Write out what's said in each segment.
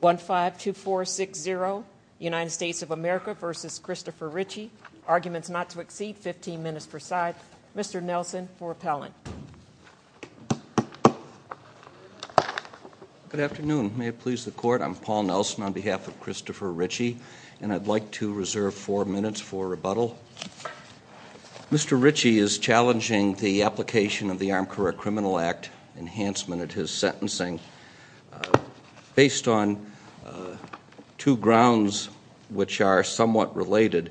152460, United States of America v. Christopher Ritchey. Arguments not to exceed 15 minutes per side. Mr. Nelson for appellant. Good afternoon. May it please the court. I'm Paul Nelson on behalf of Christopher Ritchey and I'd like to reserve four minutes for rebuttal. Mr. Ritchey is challenging the application of the Armed Career Criminal Act enhancement at his sentencing based on two grounds which are somewhat related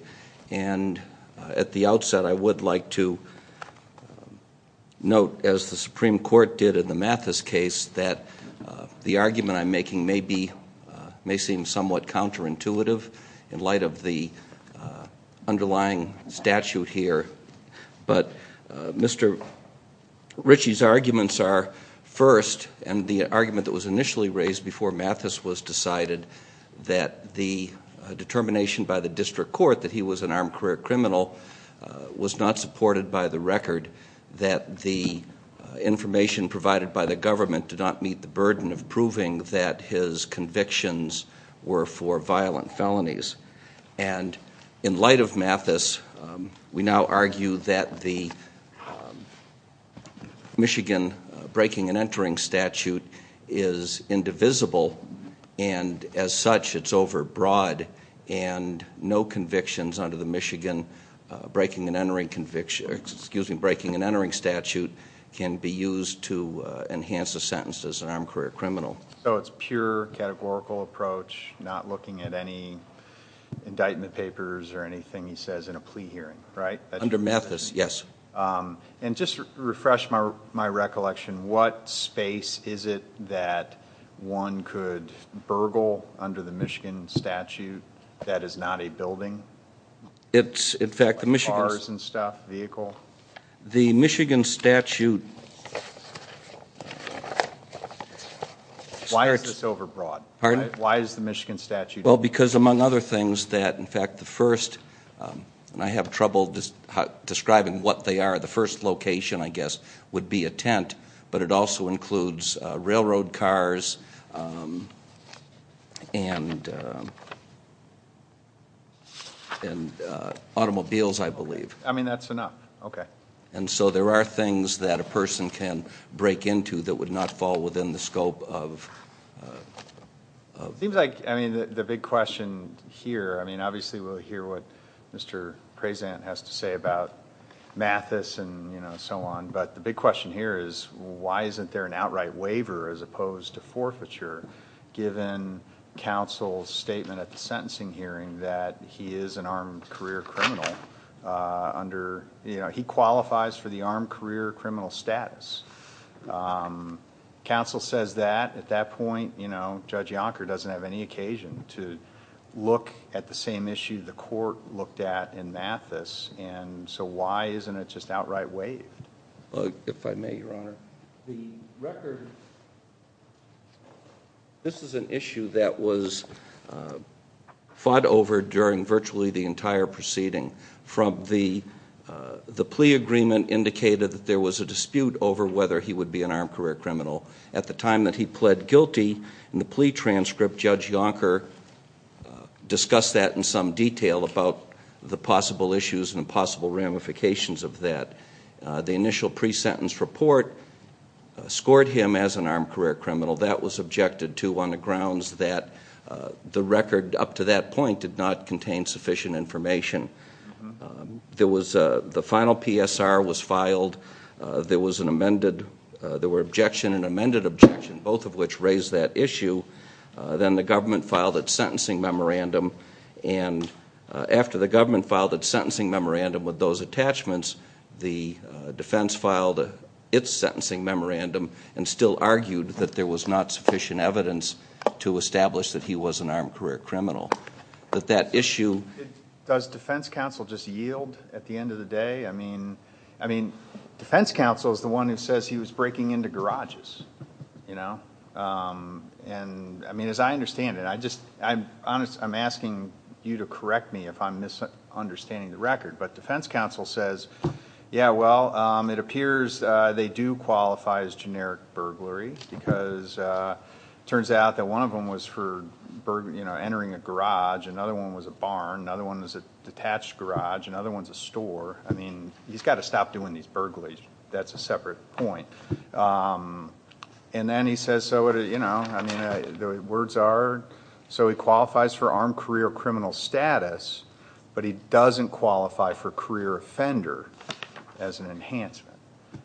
and at the outset I would like to note, as the Supreme Court did in the Mathis case, that the argument I'm making may be, may seem somewhat counterintuitive in light of the underlying statute here. But Mr. Ritchey's arguments are first, and the argument that was initially raised before Mathis was decided, that the determination by the district court that he was an armed career criminal was not supported by the record that the information provided by the government did not meet the burden of proving that his convictions were for violent felonies. And Michigan breaking and entering statute is indivisible and as such it's over broad and no convictions under the Michigan breaking and entering conviction, excuse me, breaking and entering statute can be used to enhance a sentence as an armed career criminal. So it's pure categorical approach not looking at any indictment papers or anything he says in a plea hearing, right? Under Mathis, yes. And just to refresh my recollection, what space is it that one could burgle under the Michigan statute that is not a building? It's in fact the Michigan. Bars and stuff, vehicle? The Michigan statute. Why is this over broad? Pardon? Why is the Michigan statute? Well because among other things that in fact the first, and I have trouble describing what they are, the first location I guess would be a tent, but it also includes railroad cars and automobiles I believe. I mean that's enough, okay. And so there are things that a person can break into that would not fall within the scope of... It seems like the big question here, I mean obviously we'll hear what Mr. Prezant has to say about Mathis and so on, but the big question here is why isn't there an outright waiver as opposed to forfeiture given counsel's statement at the sentencing hearing that he is an armed career criminal under, he qualifies for the statute. Counsel says that, at that point, you know, Judge Yonker doesn't have any occasion to look at the same issue the court looked at in Mathis, and so why isn't it just outright waived? If I may, Your Honor, the record, this is an issue that was fought over during virtually the entire time that he pleaded guilty in the plea transcript, Judge Yonker discussed that in some detail about the possible issues and possible ramifications of that. The initial pre-sentence report scored him as an armed career criminal. That was objected to on the grounds that the record up to that point did not contain sufficient information. There was, the final PSR was filed, there was an amended, there were objection and amended objection, both of which raised that issue. Then the government filed its sentencing memorandum, and after the government filed its sentencing memorandum with those attachments, the defense filed its sentencing memorandum and still argued that there was not sufficient evidence to establish that he was an armed career criminal. That that issue... Does defense counsel just yield at the end of the day? I mean, defense counsel is the one who says he was breaking into garages, you know? And I mean, as I understand it, I just, I'm asking you to correct me if I'm misunderstanding the record, but defense counsel says, yeah, well, it appears they do qualify as generic burglary because it turns out that one of them was for entering a garage, another one was a barn, another one was a garage. Another one was a detached garage, another one's a store. I mean, he's got to stop doing these burglaries. That's a separate point. And then he says, so, you know, I mean, the words are, so he qualifies for armed career criminal status, but he doesn't qualify for career offender as an enhancement.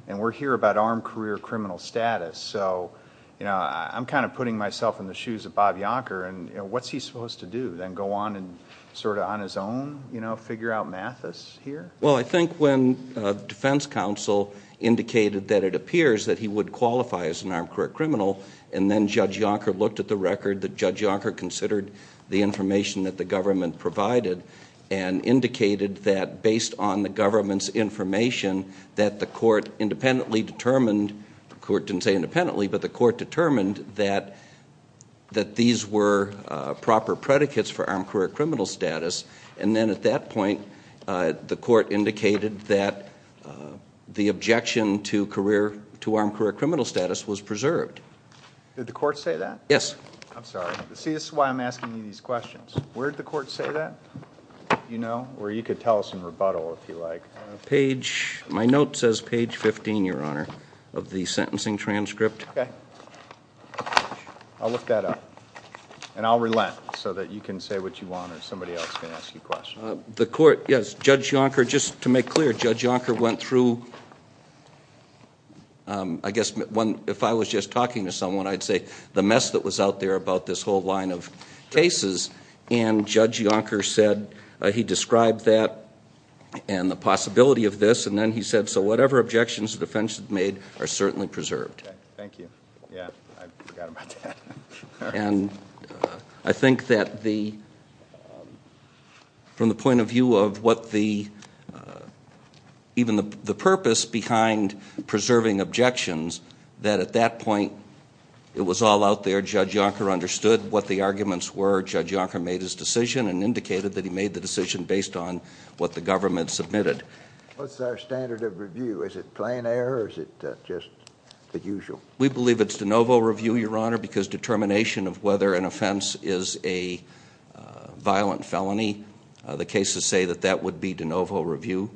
And we're here about armed career criminal status. So, you know, I'm kind of putting myself in the shoes of Bob Yonker and, you know, what's he supposed to do? Then go on and sort of on his own, you know, figure out Mathis here? Well, I think when defense counsel indicated that it appears that he would qualify as an armed career criminal and then Judge Yonker looked at the record that Judge Yonker considered the information that the government provided and indicated that based on the government's information that the court independently determined, the court didn't say independently, but the court determined that these were proper predicates for armed career criminal status. And then at that point, the court indicated that the objection to career, to armed career criminal status was preserved. Did the court say that? Yes. I'm sorry. See, this is why I'm asking you these questions. Where did the court say that? You know, or you could tell us in rebuttal if you like. My note says page 15, Your Honor, of the sentencing transcript. Okay. I'll look that up. And I'll relent so that you can say what you want or somebody else can ask you questions. The court, yes, Judge Yonker, just to make clear, Judge Yonker went through, I guess, if I was just talking to someone, I'd say the mess that was out there about this whole line of cases. And Judge Yonker said he described that and the possibility of this. And then he said, so whatever objections the defense had made are certainly preserved. Thank you. Yeah, I forgot about that. And I think that the, from the point of view of what the, even the purpose behind preserving objections, that at that point it was all out there. Judge Yonker understood what the arguments were. Judge Yonker made his decision and indicated that he made the decision based on what the government submitted. What's our standard of review? Is it plain error or is it just the usual? We believe it's de novo review, Your Honor, because determination of whether an offense is a violent felony, the cases say that that would be de novo review.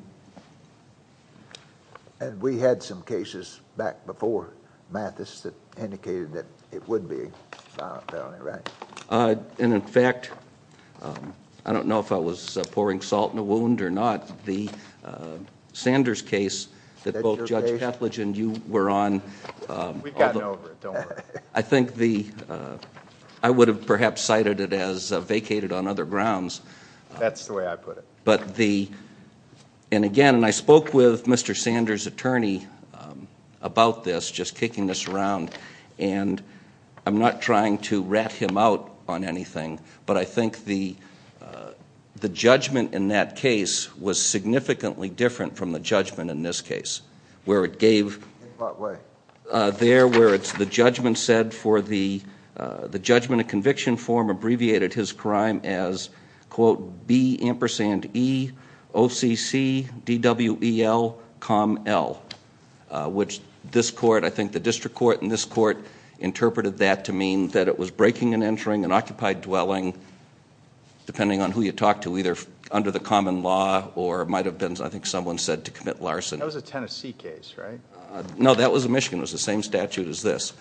And we had some cases back before Mathis that indicated that it would be a violent felony, right? And in fact, I don't know if I was pouring salt in a wound or not, the Sanders case that both Judge Ketledge and you were on. We've gotten over it, don't worry. I think the, I would have perhaps cited it as vacated on other grounds. That's the way I put it. And again, I spoke with Mr. Sanders' attorney about this, just kicking this around. And I'm not trying to rat him out on anything, but I think the judgment in that case was significantly different from the judgment in this case. In what way? There, where it's the judgment said for the judgment of conviction form abbreviated his crime as, quote, B ampersand E OCC DWEL COM L. Which this court, I think the district court and this court, interpreted that to mean that it was breaking and entering an occupied dwelling, depending on who you talk to, either under the common law or might have been, I think someone said, to commit larceny. That was a Tennessee case, right? No, that was a Michigan. It was the same statute as this.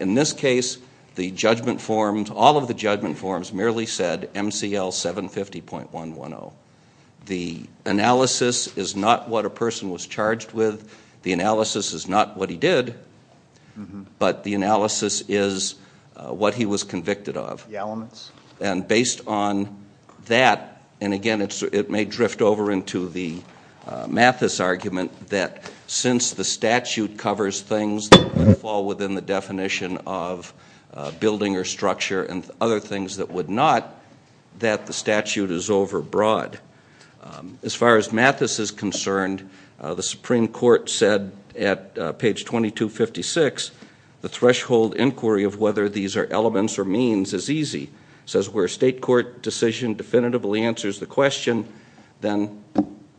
In this case, the judgment forms, all of the judgment forms merely said MCL 750.110. The analysis is not what a person was charged with. The analysis is not what he did. But the analysis is what he was convicted of. The elements. And based on that, and, again, it may drift over into the Mathis argument that since the statute covers things that fall within the definition of building or structure and other things that would not, that the statute is overbroad. As far as Mathis is concerned, the Supreme Court said at page 2256, the threshold inquiry of whether these are elements or means is easy. It says where a state court decision definitively answers the question, then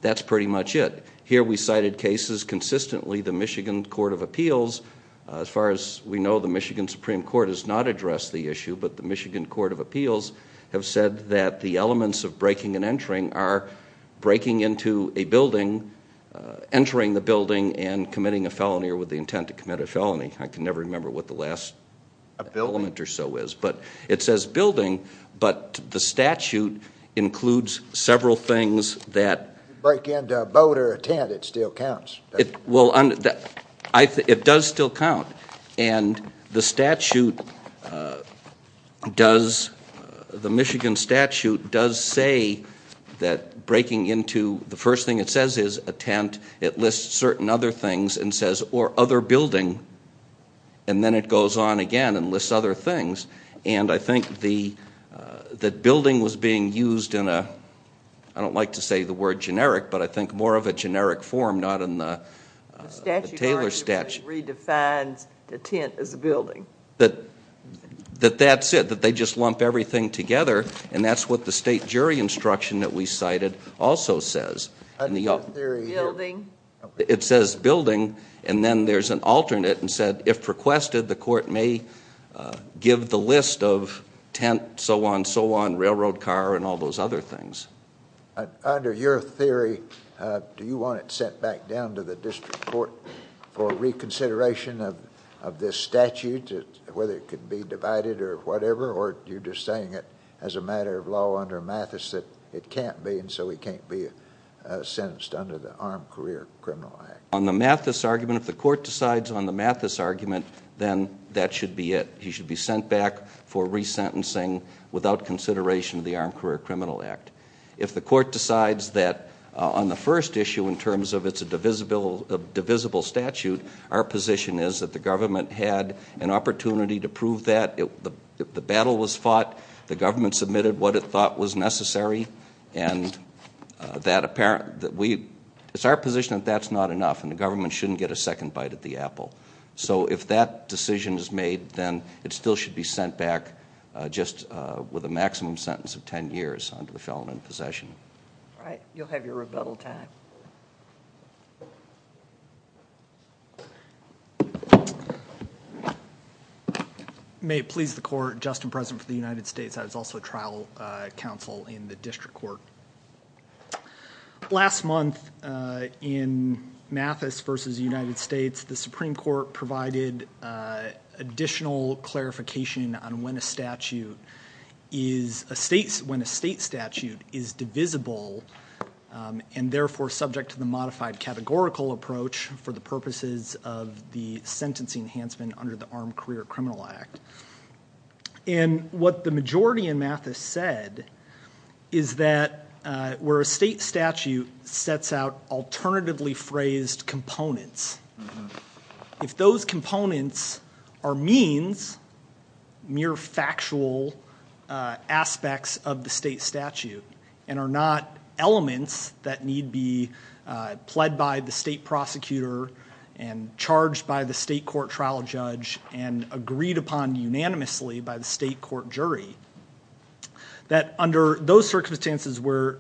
that's pretty much it. Here we cited cases consistently. The Michigan Court of Appeals, as far as we know, the Michigan Supreme Court has not addressed the issue. But the Michigan Court of Appeals have said that the elements of breaking and entering are breaking into a building, entering the building, and committing a felony or with the intent to commit a felony. I can never remember what the last element or so is. But it says building, but the statute includes several things that. If you break into a boat or a tent, it still counts, doesn't it? Well, it does still count. And the statute does, the Michigan statute does say that breaking into, the first thing it says is a tent. It lists certain other things and says, or other building. And then it goes on again and lists other things. And I think that building was being used in a, I don't like to say the word generic, but I think more of a generic form, not in the Taylor statute. It redefines the tent as a building. That that's it, that they just lump everything together. And that's what the state jury instruction that we cited also says. Building. It says building, and then there's an alternate and said, if requested, the court may give the list of tent, so on, so on, railroad car, and all those other things. Under your theory, do you want it sent back down to the district court for reconsideration of this statute, whether it could be divided or whatever, or you're just saying it as a matter of law under Mathis that it can't be, and so it can't be sentenced under the Armed Career Criminal Act? On the Mathis argument, if the court decides on the Mathis argument, then that should be it. Without consideration of the Armed Career Criminal Act. If the court decides that on the first issue in terms of it's a divisible statute, our position is that the government had an opportunity to prove that. The battle was fought. The government submitted what it thought was necessary, and that apparent, that we, it's our position that that's not enough, and the government shouldn't get a second bite at the apple. So, if that decision is made, then it still should be sent back just with a maximum sentence of 10 years under the felon in possession. All right, you'll have your rebuttal time. May it please the court, Justin President for the United States, I was also trial counsel in the district court. Last month in Mathis versus the United States, the Supreme Court provided additional clarification on when a statute is, when a state statute is divisible, and therefore subject to the modified categorical approach for the purposes of the sentencing enhancement under the Armed Career Criminal Act. And what the majority in Mathis said is that where a state statute sets out alternatively phrased components, if those components are means, mere factual aspects of the state statute, and are not elements that need be pled by the state prosecutor, and charged by the state court trial judge, and agreed upon unanimously by the state court jury, that under those circumstances where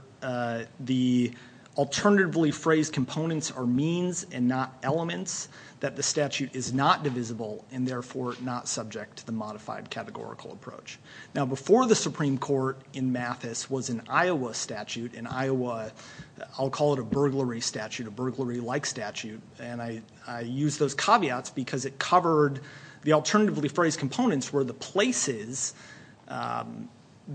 the alternatively phrased components are means and not elements, that the statute is not divisible, and therefore not subject to the modified categorical approach. Now before the Supreme Court in Mathis was an Iowa statute, an Iowa, I'll call it a burglary statute, a burglary-like statute, and I use those caveats because it covered the alternatively phrased components were the places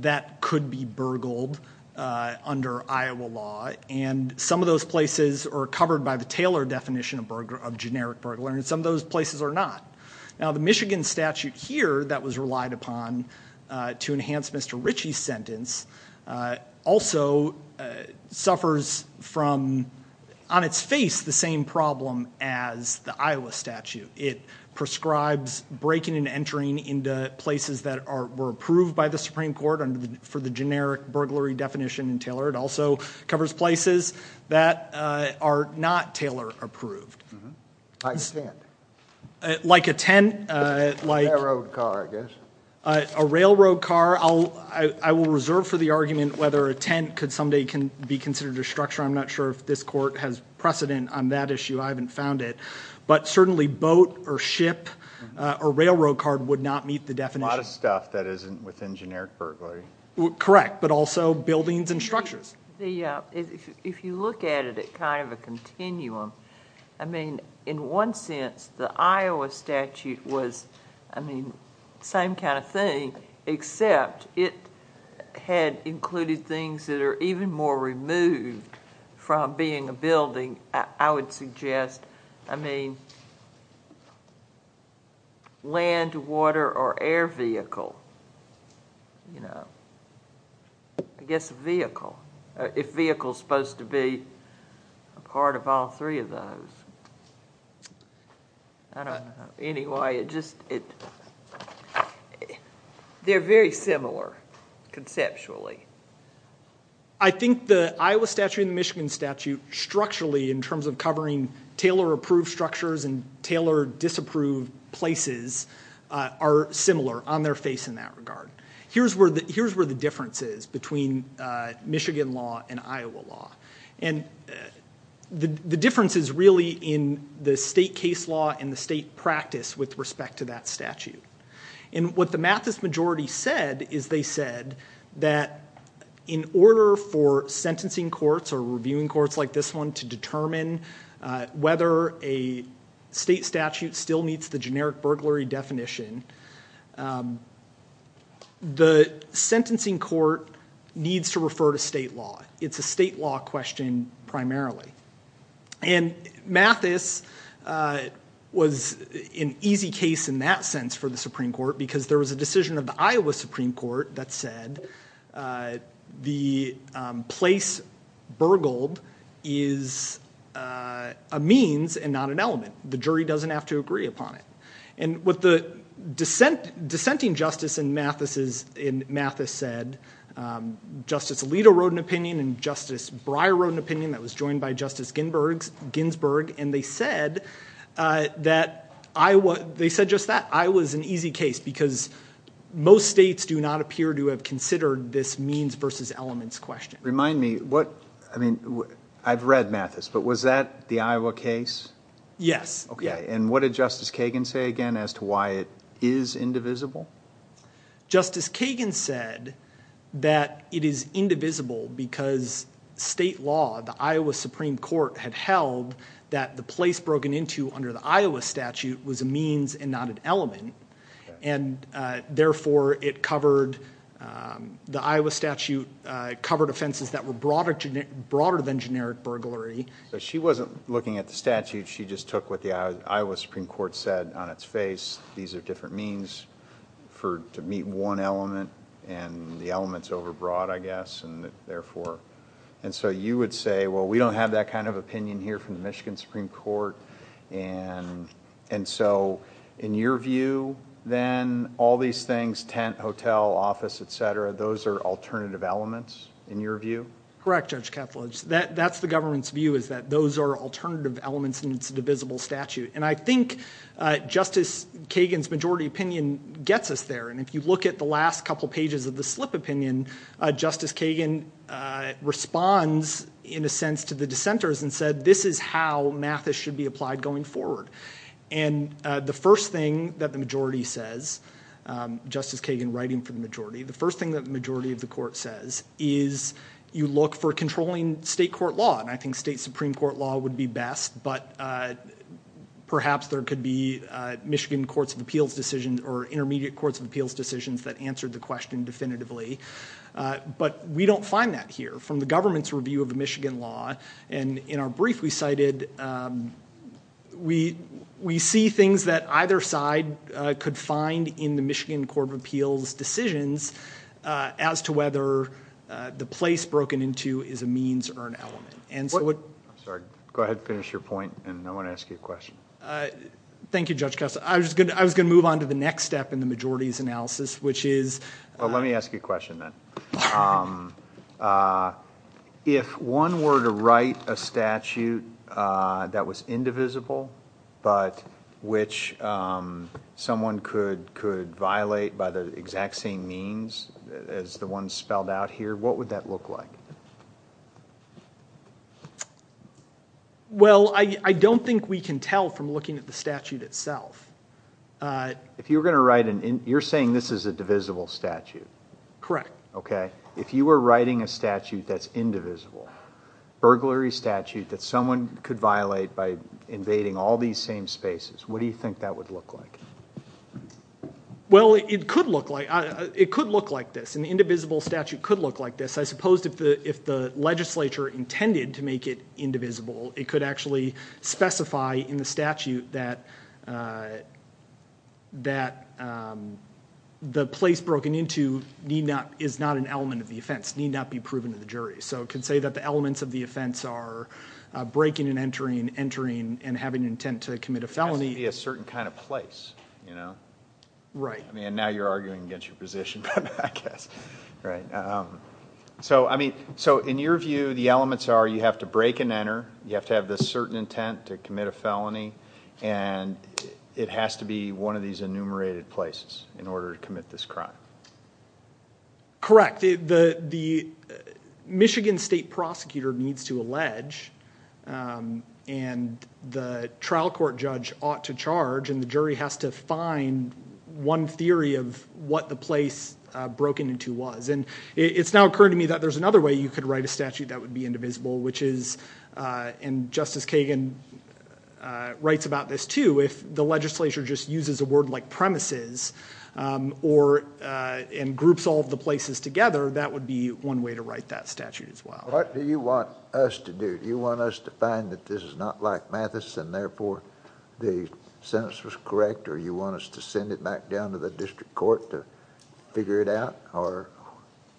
that could be burgled under Iowa law, and some of those places are covered by the Taylor definition of generic burglar, and some of those places are not. Now the Michigan statute here that was relied upon to enhance Mr. Ritchie's sentence also suffers from, on its face, the same problem as the Iowa statute. It prescribes breaking and entering into places that were approved by the Supreme Court for the generic burglary definition in Taylor. It also covers places that are not Taylor approved. I understand. Like a tent? A railroad car, I guess. A railroad car. I will reserve for the argument whether a tent could someday be considered a structure. I'm not sure if this court has precedent on that issue. I haven't found it. But certainly boat or ship or railroad car would not meet the definition. A lot of stuff that isn't within generic burglary. Correct, but also buildings and structures. If you look at it at kind of a continuum, I mean, in one sense the Iowa statute was, I mean, same kind of thing, except it had included things that are even more removed from being a building. I would suggest, I mean, land, water, or air vehicle, you know. I guess vehicle, if vehicle's supposed to be a part of all three of those. I don't know. Anyway, it just, it, they're very similar conceptually. I think the Iowa statute and the Michigan statute structurally in terms of covering Taylor approved structures and Taylor disapproved places are similar on their face in that regard. Here's where the difference is between Michigan law and Iowa law. And the difference is really in the state case law and the state practice with respect to that statute. And what the Mathis majority said is they said that in order for sentencing courts or reviewing courts like this one to determine whether a state statute still meets the generic burglary definition, the sentencing court needs to refer to state law. It's a state law question primarily. And Mathis was an easy case in that sense for the Supreme Court because there was a decision of the Iowa Supreme Court that said the place burgled is a means and not an element. The jury doesn't have to agree upon it. And what the dissenting justice in Mathis said, Justice Alito wrote an opinion and Justice Breyer wrote an opinion that was joined by Justice Ginsburg. And they said that Iowa, they said just that, Iowa is an easy case because most states do not appear to have considered this means versus elements question. Remind me, what, I mean, I've read Mathis, but was that the Iowa case? Yes. Okay. And what did Justice Kagan say again as to why it is indivisible? Justice Kagan said that it is indivisible because state law, the Iowa Supreme Court, had held that the place broken into under the Iowa statute was a means and not an element. And therefore, it covered, the Iowa statute covered offenses that were broader than generic burglary. She wasn't looking at the statute. She just took what the Iowa Supreme Court said on its face. These are different means to meet one element and the elements over broad, I guess, and therefore. And so you would say, well, we don't have that kind of opinion here from the Michigan Supreme Court. And so in your view, then, all these things, tent, hotel, office, et cetera, those are alternative elements in your view? Correct, Judge Kethledge. That's the government's view is that those are alternative elements and it's a divisible statute. And I think Justice Kagan's majority opinion gets us there. And if you look at the last couple pages of the slip opinion, Justice Kagan responds in a sense to the dissenters and said this is how math should be applied going forward. And the first thing that the majority says, Justice Kagan writing for the majority, the first thing that the majority of the court says is you look for controlling state court law. And I think state Supreme Court law would be best, but perhaps there could be Michigan Courts of Appeals decisions or intermediate Courts of Appeals decisions that answered the question definitively. But we don't find that here. From the government's review of the Michigan law, and in our brief we cited, we see things that either side could find in the Michigan Court of Appeals decisions as to whether the place broken into is a means or an element. I'm sorry, go ahead and finish your point and I want to ask you a question. Thank you, Judge Kessler. I was going to move on to the next step in the majority's analysis, which is Let me ask you a question then. If one were to write a statute that was indivisible, but which someone could violate by the exact same means as the one spelled out here, what would that look like? Well, I don't think we can tell from looking at the statute itself. You're saying this is a divisible statute. Correct. Okay. If you were writing a statute that's indivisible, burglary statute that someone could violate by invading all these same spaces, what do you think that would look like? Well, it could look like this. An indivisible statute could look like this. I suppose if the legislature intended to make it indivisible, it could actually specify in the statute that the place broken into is not an element of the offense, need not be proven to the jury. So it could say that the elements of the offense are breaking and entering, entering and having intent to commit a felony. It has to be a certain kind of place. Right. Now you're arguing against your position, I guess. So in your view, the elements are you have to break and enter, you have to have this certain intent to commit a felony, and it has to be one of these enumerated places in order to commit this crime. Correct. In fact, the Michigan state prosecutor needs to allege, and the trial court judge ought to charge, and the jury has to find one theory of what the place broken into was. And it's now occurring to me that there's another way you could write a statute that would be indivisible, which is, and Justice Kagan writes about this too, if the legislature just uses a word like premises and groups all of the places together, that would be one way to write that statute as well. What do you want us to do? Do you want us to find that this is not like Mathis and therefore the sentence was correct, or you want us to send it back down to the district court to figure it out, or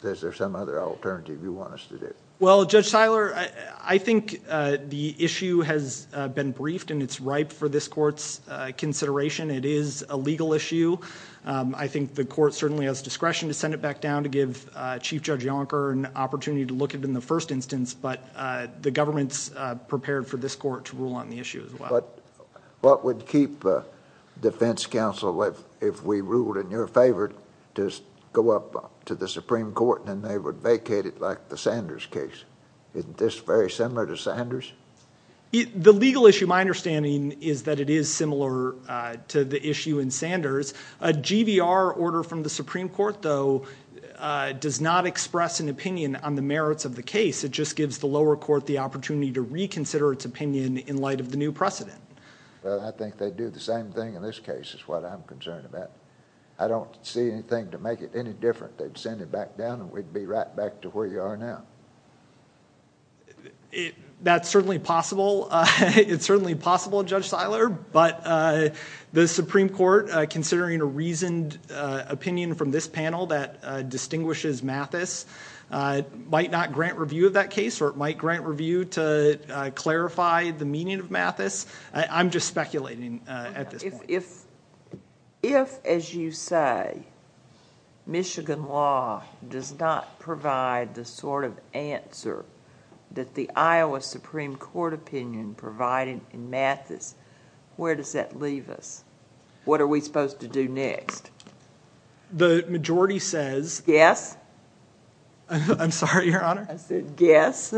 is there some other alternative you want us to do? Well, Judge Tyler, I think the issue has been briefed and it's ripe for this court's consideration. It is a legal issue. I think the court certainly has discretion to send it back down to give Chief Judge Yonker an opportunity to look at it in the first instance, but the government's prepared for this court to rule on the issue as well. But what would keep defense counsel, if we ruled in your favor, to go up to the Supreme Court and they would vacate it like the Sanders case? Isn't this very similar to Sanders? The legal issue, my understanding, is that it is similar to the issue in Sanders. A GVR order from the Supreme Court, though, does not express an opinion on the merits of the case. It just gives the lower court the opportunity to reconsider its opinion in light of the new precedent. Well, I think they'd do the same thing in this case is what I'm concerned about. I don't see anything to make it any different. They'd send it back down and we'd be right back to where you are now. That's certainly possible. It's certainly possible, Judge Seiler, but the Supreme Court, considering a reasoned opinion from this panel that distinguishes Mathis, might not grant review of that case or it might grant review to clarify the meaning of Mathis. I'm just speculating at this point. If, as you say, Michigan law does not provide the sort of answer that the Iowa Supreme Court opinion provided in Mathis, where does that leave us? What are we supposed to do next? The majority says— Guess? I'm sorry, Your Honor? I said guess.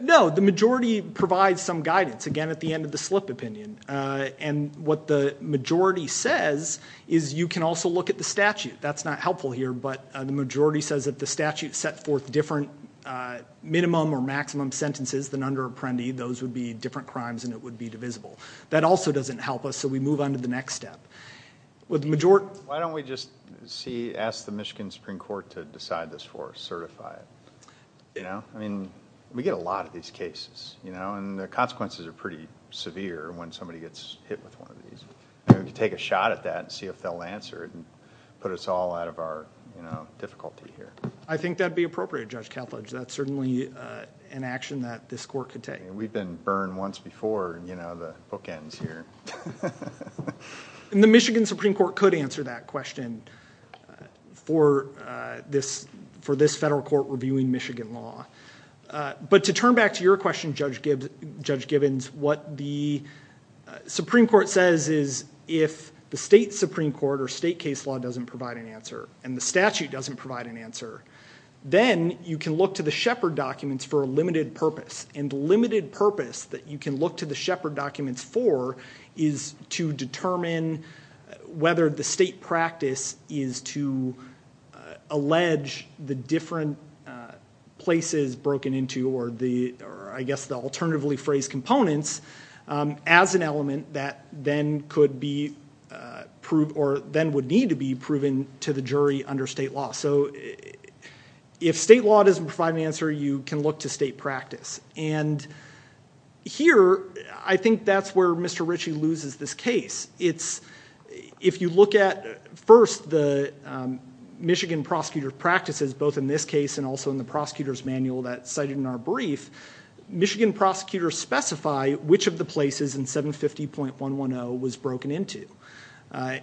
No, the majority provides some guidance, again, at the end of the slip opinion. What the majority says is you can also look at the statute. That's not helpful here, but the majority says that the statute set forth different minimum or maximum sentences than under Apprendi. Those would be different crimes and it would be divisible. That also doesn't help us, so we move on to the next step. Why don't we just ask the Michigan Supreme Court to decide this for us, certify it? We get a lot of these cases, and the consequences are pretty severe when somebody gets hit with one of these. We can take a shot at that and see if they'll answer it and put us all out of our difficulty here. I think that would be appropriate, Judge Kalfitz. That's certainly an action that this court could take. We've been burned once before. The book ends here. The Michigan Supreme Court could answer that question for this federal court reviewing Michigan law. To turn back to your question, Judge Gibbons, what the Supreme Court says is if the state Supreme Court or state case law doesn't provide an answer and the statute doesn't provide an answer, then you can look to the Shepard documents for a limited purpose. The limited purpose that you can look to the Shepard documents for is to determine whether the state practice is to allege the different places broken into or I guess the alternatively phrased components as an element that then would need to be proven to the jury under state law. If state law doesn't provide an answer, you can look to state practice. Here, I think that's where Mr. Ritchie loses this case. If you look at first the Michigan prosecutor practices, both in this case and also in the prosecutor's manual that's cited in our brief, Michigan prosecutors specify which of the places in 750.110 was broken into.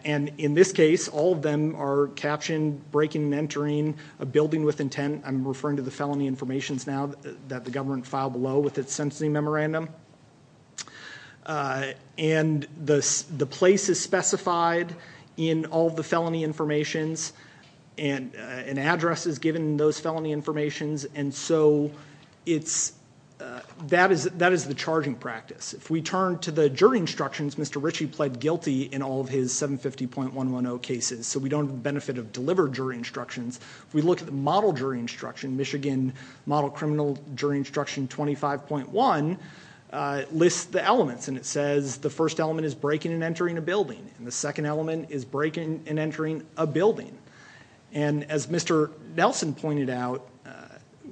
In this case, all of them are captioned breaking and entering a building with intent. I'm referring to the felony informations now that the government filed below with its sentencing memorandum. The place is specified in all the felony informations and address is given in those felony informations. That is the charging practice. If we turn to the jury instructions, Mr. Ritchie pled guilty in all of his 750.110 cases. We don't benefit of delivered jury instructions. We look at the model jury instruction, Michigan model criminal jury instruction 25.1, lists the elements. It says the first element is breaking and entering a building. The second element is breaking and entering a building. As Mr. Nelson pointed out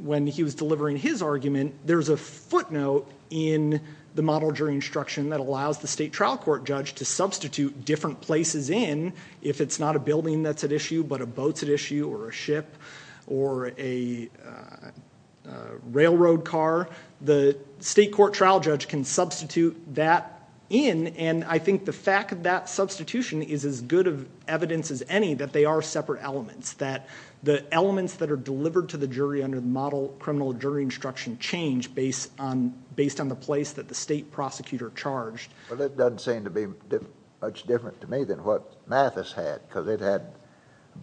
when he was delivering his argument, there's a footnote in the model jury instruction that allows the state trial court judge to substitute different places in if it's not a building that's at issue but a boat's at issue or a ship or a railroad car. The state court trial judge can substitute that in and I think the fact of that substitution is as good of evidence as any that they are separate elements, that the elements that are delivered to the jury under the model criminal jury instruction change based on the place that the state prosecutor charged. It doesn't seem to be much different to me than what Mathis had because it had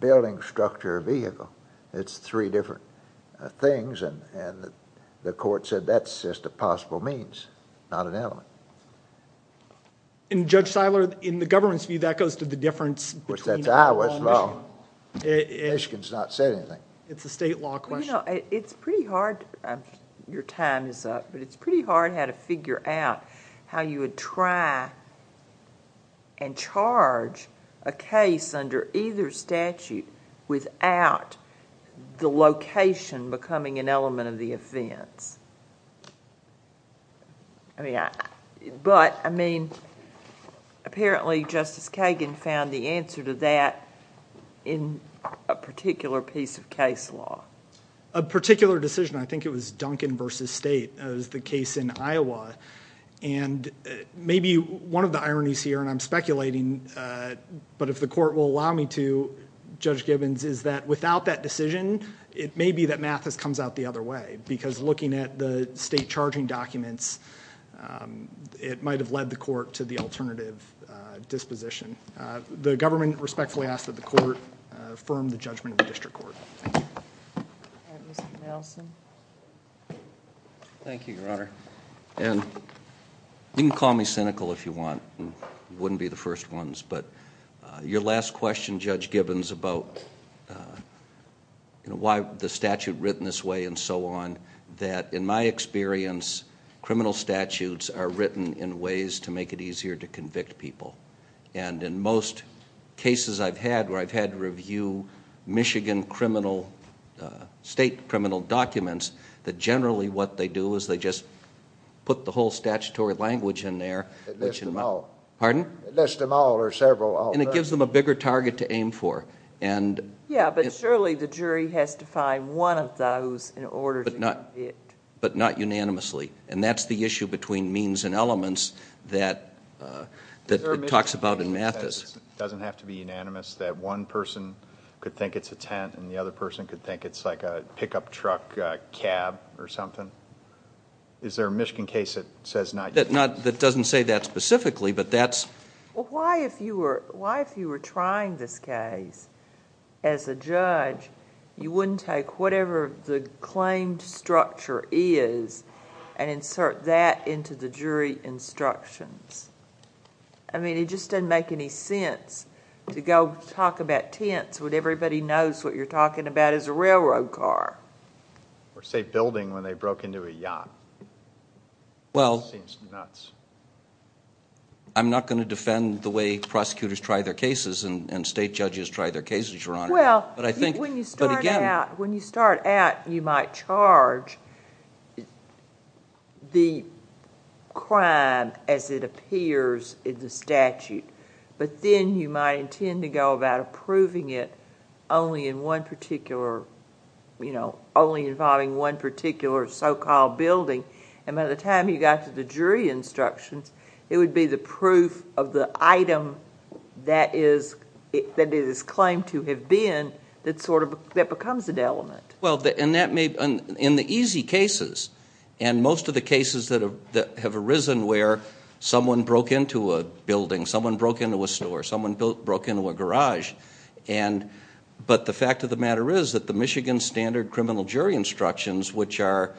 building, structure, vehicle. It's three different things and the court said that's just a possible means, not an element. Judge Seiler, in the government's view, that goes to the difference between... That's Iowa's law. Michigan's not said anything. It's a state law question. It's pretty hard, your time is up, but it's pretty hard how to figure out how you would try and charge a case under either statute without the location becoming an element of the offense. Apparently, Justice Kagan found the answer to that in a particular piece of case law. A particular decision, I think it was Duncan v. State. It was the case in Iowa. Maybe one of the ironies here, and I'm speculating, but if the court will allow me to, Judge Gibbons, is that without that decision, it may be that Mathis comes out the other way because looking at the state charging documents, it might have led the court to the alternative disposition. The government respectfully asks that the court affirm the judgment of the district court. Thank you. Mr. Nelson. Thank you, your Honor. You can call me cynical if you want. I wouldn't be the first ones, but your last question, Judge Gibbons, about why the statute written this way and so on, that in my experience, criminal statutes are written in ways to make it easier to convict people. In most cases I've had where I've had to review Michigan state criminal documents, that generally what they do is they just put the whole statutory language in there. They list them all. Pardon? They list them all or several of them. And it gives them a bigger target to aim for. Yeah, but surely the jury has to find one of those in order to convict. But not unanimously, and that's the issue between means and elements that it talks about in Mathis. It doesn't have to be unanimous that one person could think it's a tent and the other person could think it's like a pickup truck cab or something? Is there a Michigan case that says not unanimously? That doesn't say that specifically, but that's... Well, why if you were trying this case as a judge, you wouldn't take whatever the claimed structure is and insert that into the jury instructions? I mean, it just doesn't make any sense to go talk about tents when everybody knows what you're talking about is a railroad car. Or say building when they broke into a yacht. Well... Seems nuts. I'm not going to defend the way prosecutors try their cases and state judges try their cases, Your Honor. Well, when you start out, you might charge the crime as it appears in the statute, but then you might intend to go about approving it only involving one particular so-called building, and by the time you got to the jury instructions, it would be the proof of the item that it is claimed to have been that becomes an element. Well, in the easy cases, and most of the cases that have arisen where someone broke into a building, someone broke into a store, someone broke into a garage, but the fact of the matter is that the Michigan Standard Criminal Jury Instructions, which are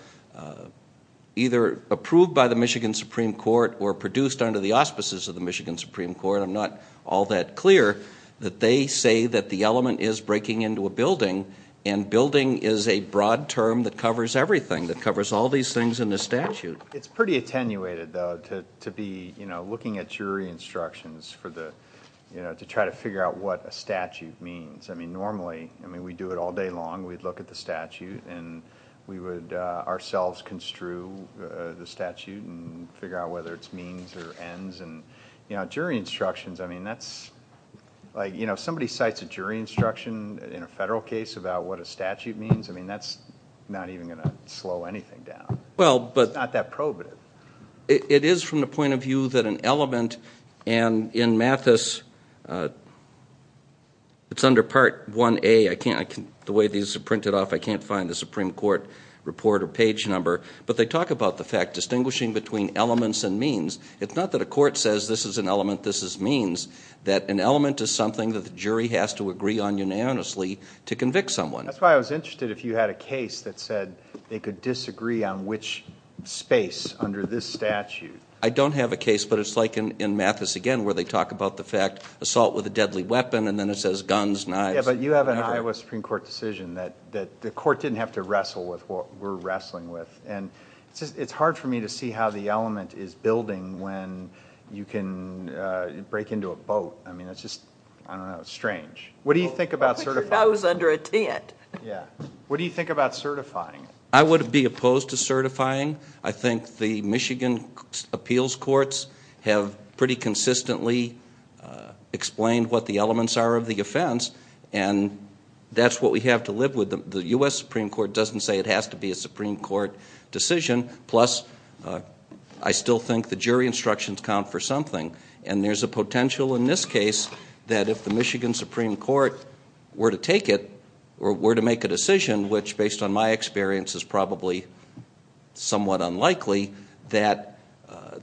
either approved by the Michigan Supreme Court or produced under the auspices of the Michigan Supreme Court, I'm not all that clear, that they say that the element is breaking into a building, and building is a broad term that covers everything, that covers all these things in the statute. It's pretty attenuated, though, to be looking at jury instructions to try to figure out what a statute means. I mean, normally, we do it all day long. We'd look at the statute, and we would ourselves construe the statute and figure out whether it's means or ends. And jury instructions, I mean, that's... Like, you know, if somebody cites a jury instruction in a federal case about what a statute means, I mean, that's not even going to slow anything down. It's not that probative. It is from the point of view that an element... And in Mathis, it's under Part 1A. I can't... The way these are printed off, I can't find the Supreme Court report or page number. But they talk about the fact, distinguishing between elements and means. It's not that a court says, this is an element, this is means. That an element is something that the jury has to agree on unanimously to convict someone. That's why I was interested if you had a case that said they could disagree on which space under this statute. I don't have a case, but it's like in Mathis again, where they talk about the fact, assault with a deadly weapon, and then it says guns, knives. Yeah, but you have an Iowa Supreme Court decision that the court didn't have to wrestle with what we're wrestling with. And it's hard for me to see how the element is building when you can break into a boat. I mean, it's just... I don't know. It's strange. What do you think about certifying? I thought you said I was under a tent. Yeah. What do you think about certifying? I would be opposed to certifying. I think the Michigan appeals courts have pretty consistently explained what the elements are of the offense, and that's what we have to live with. The U.S. Supreme Court doesn't say it has to be a Supreme Court decision. Plus, I still think the jury instructions count for something. And there's a potential in this case that if the Michigan Supreme Court were to take it, or were to make a decision, which, based on my experience, is probably somewhat unlikely, that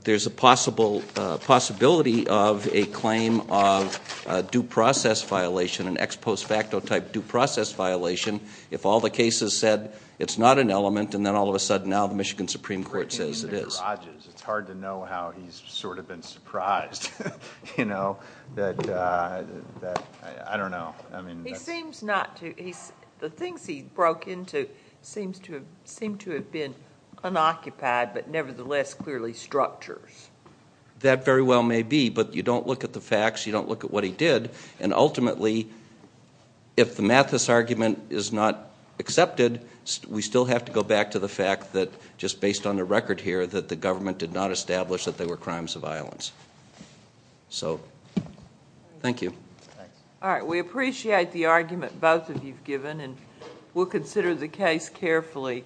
there's a possibility of a claim of due process violation, an ex post facto type due process violation, if all the cases said it's not an element and then all of a sudden now the Michigan Supreme Court says it is. It's hard to know how he's sort of been surprised. You know? I don't know. He seems not to... The things he broke into seem to have been unoccupied but nevertheless clearly structures. That very well may be, but you don't look at the facts, you don't look at what he did, and ultimately, if the Mathis argument is not accepted, we still have to go back to the fact that, just based on the record here, that the government did not establish that they were crimes of violence. So, thank you. All right. We appreciate the argument both of you have given and we'll consider the case carefully.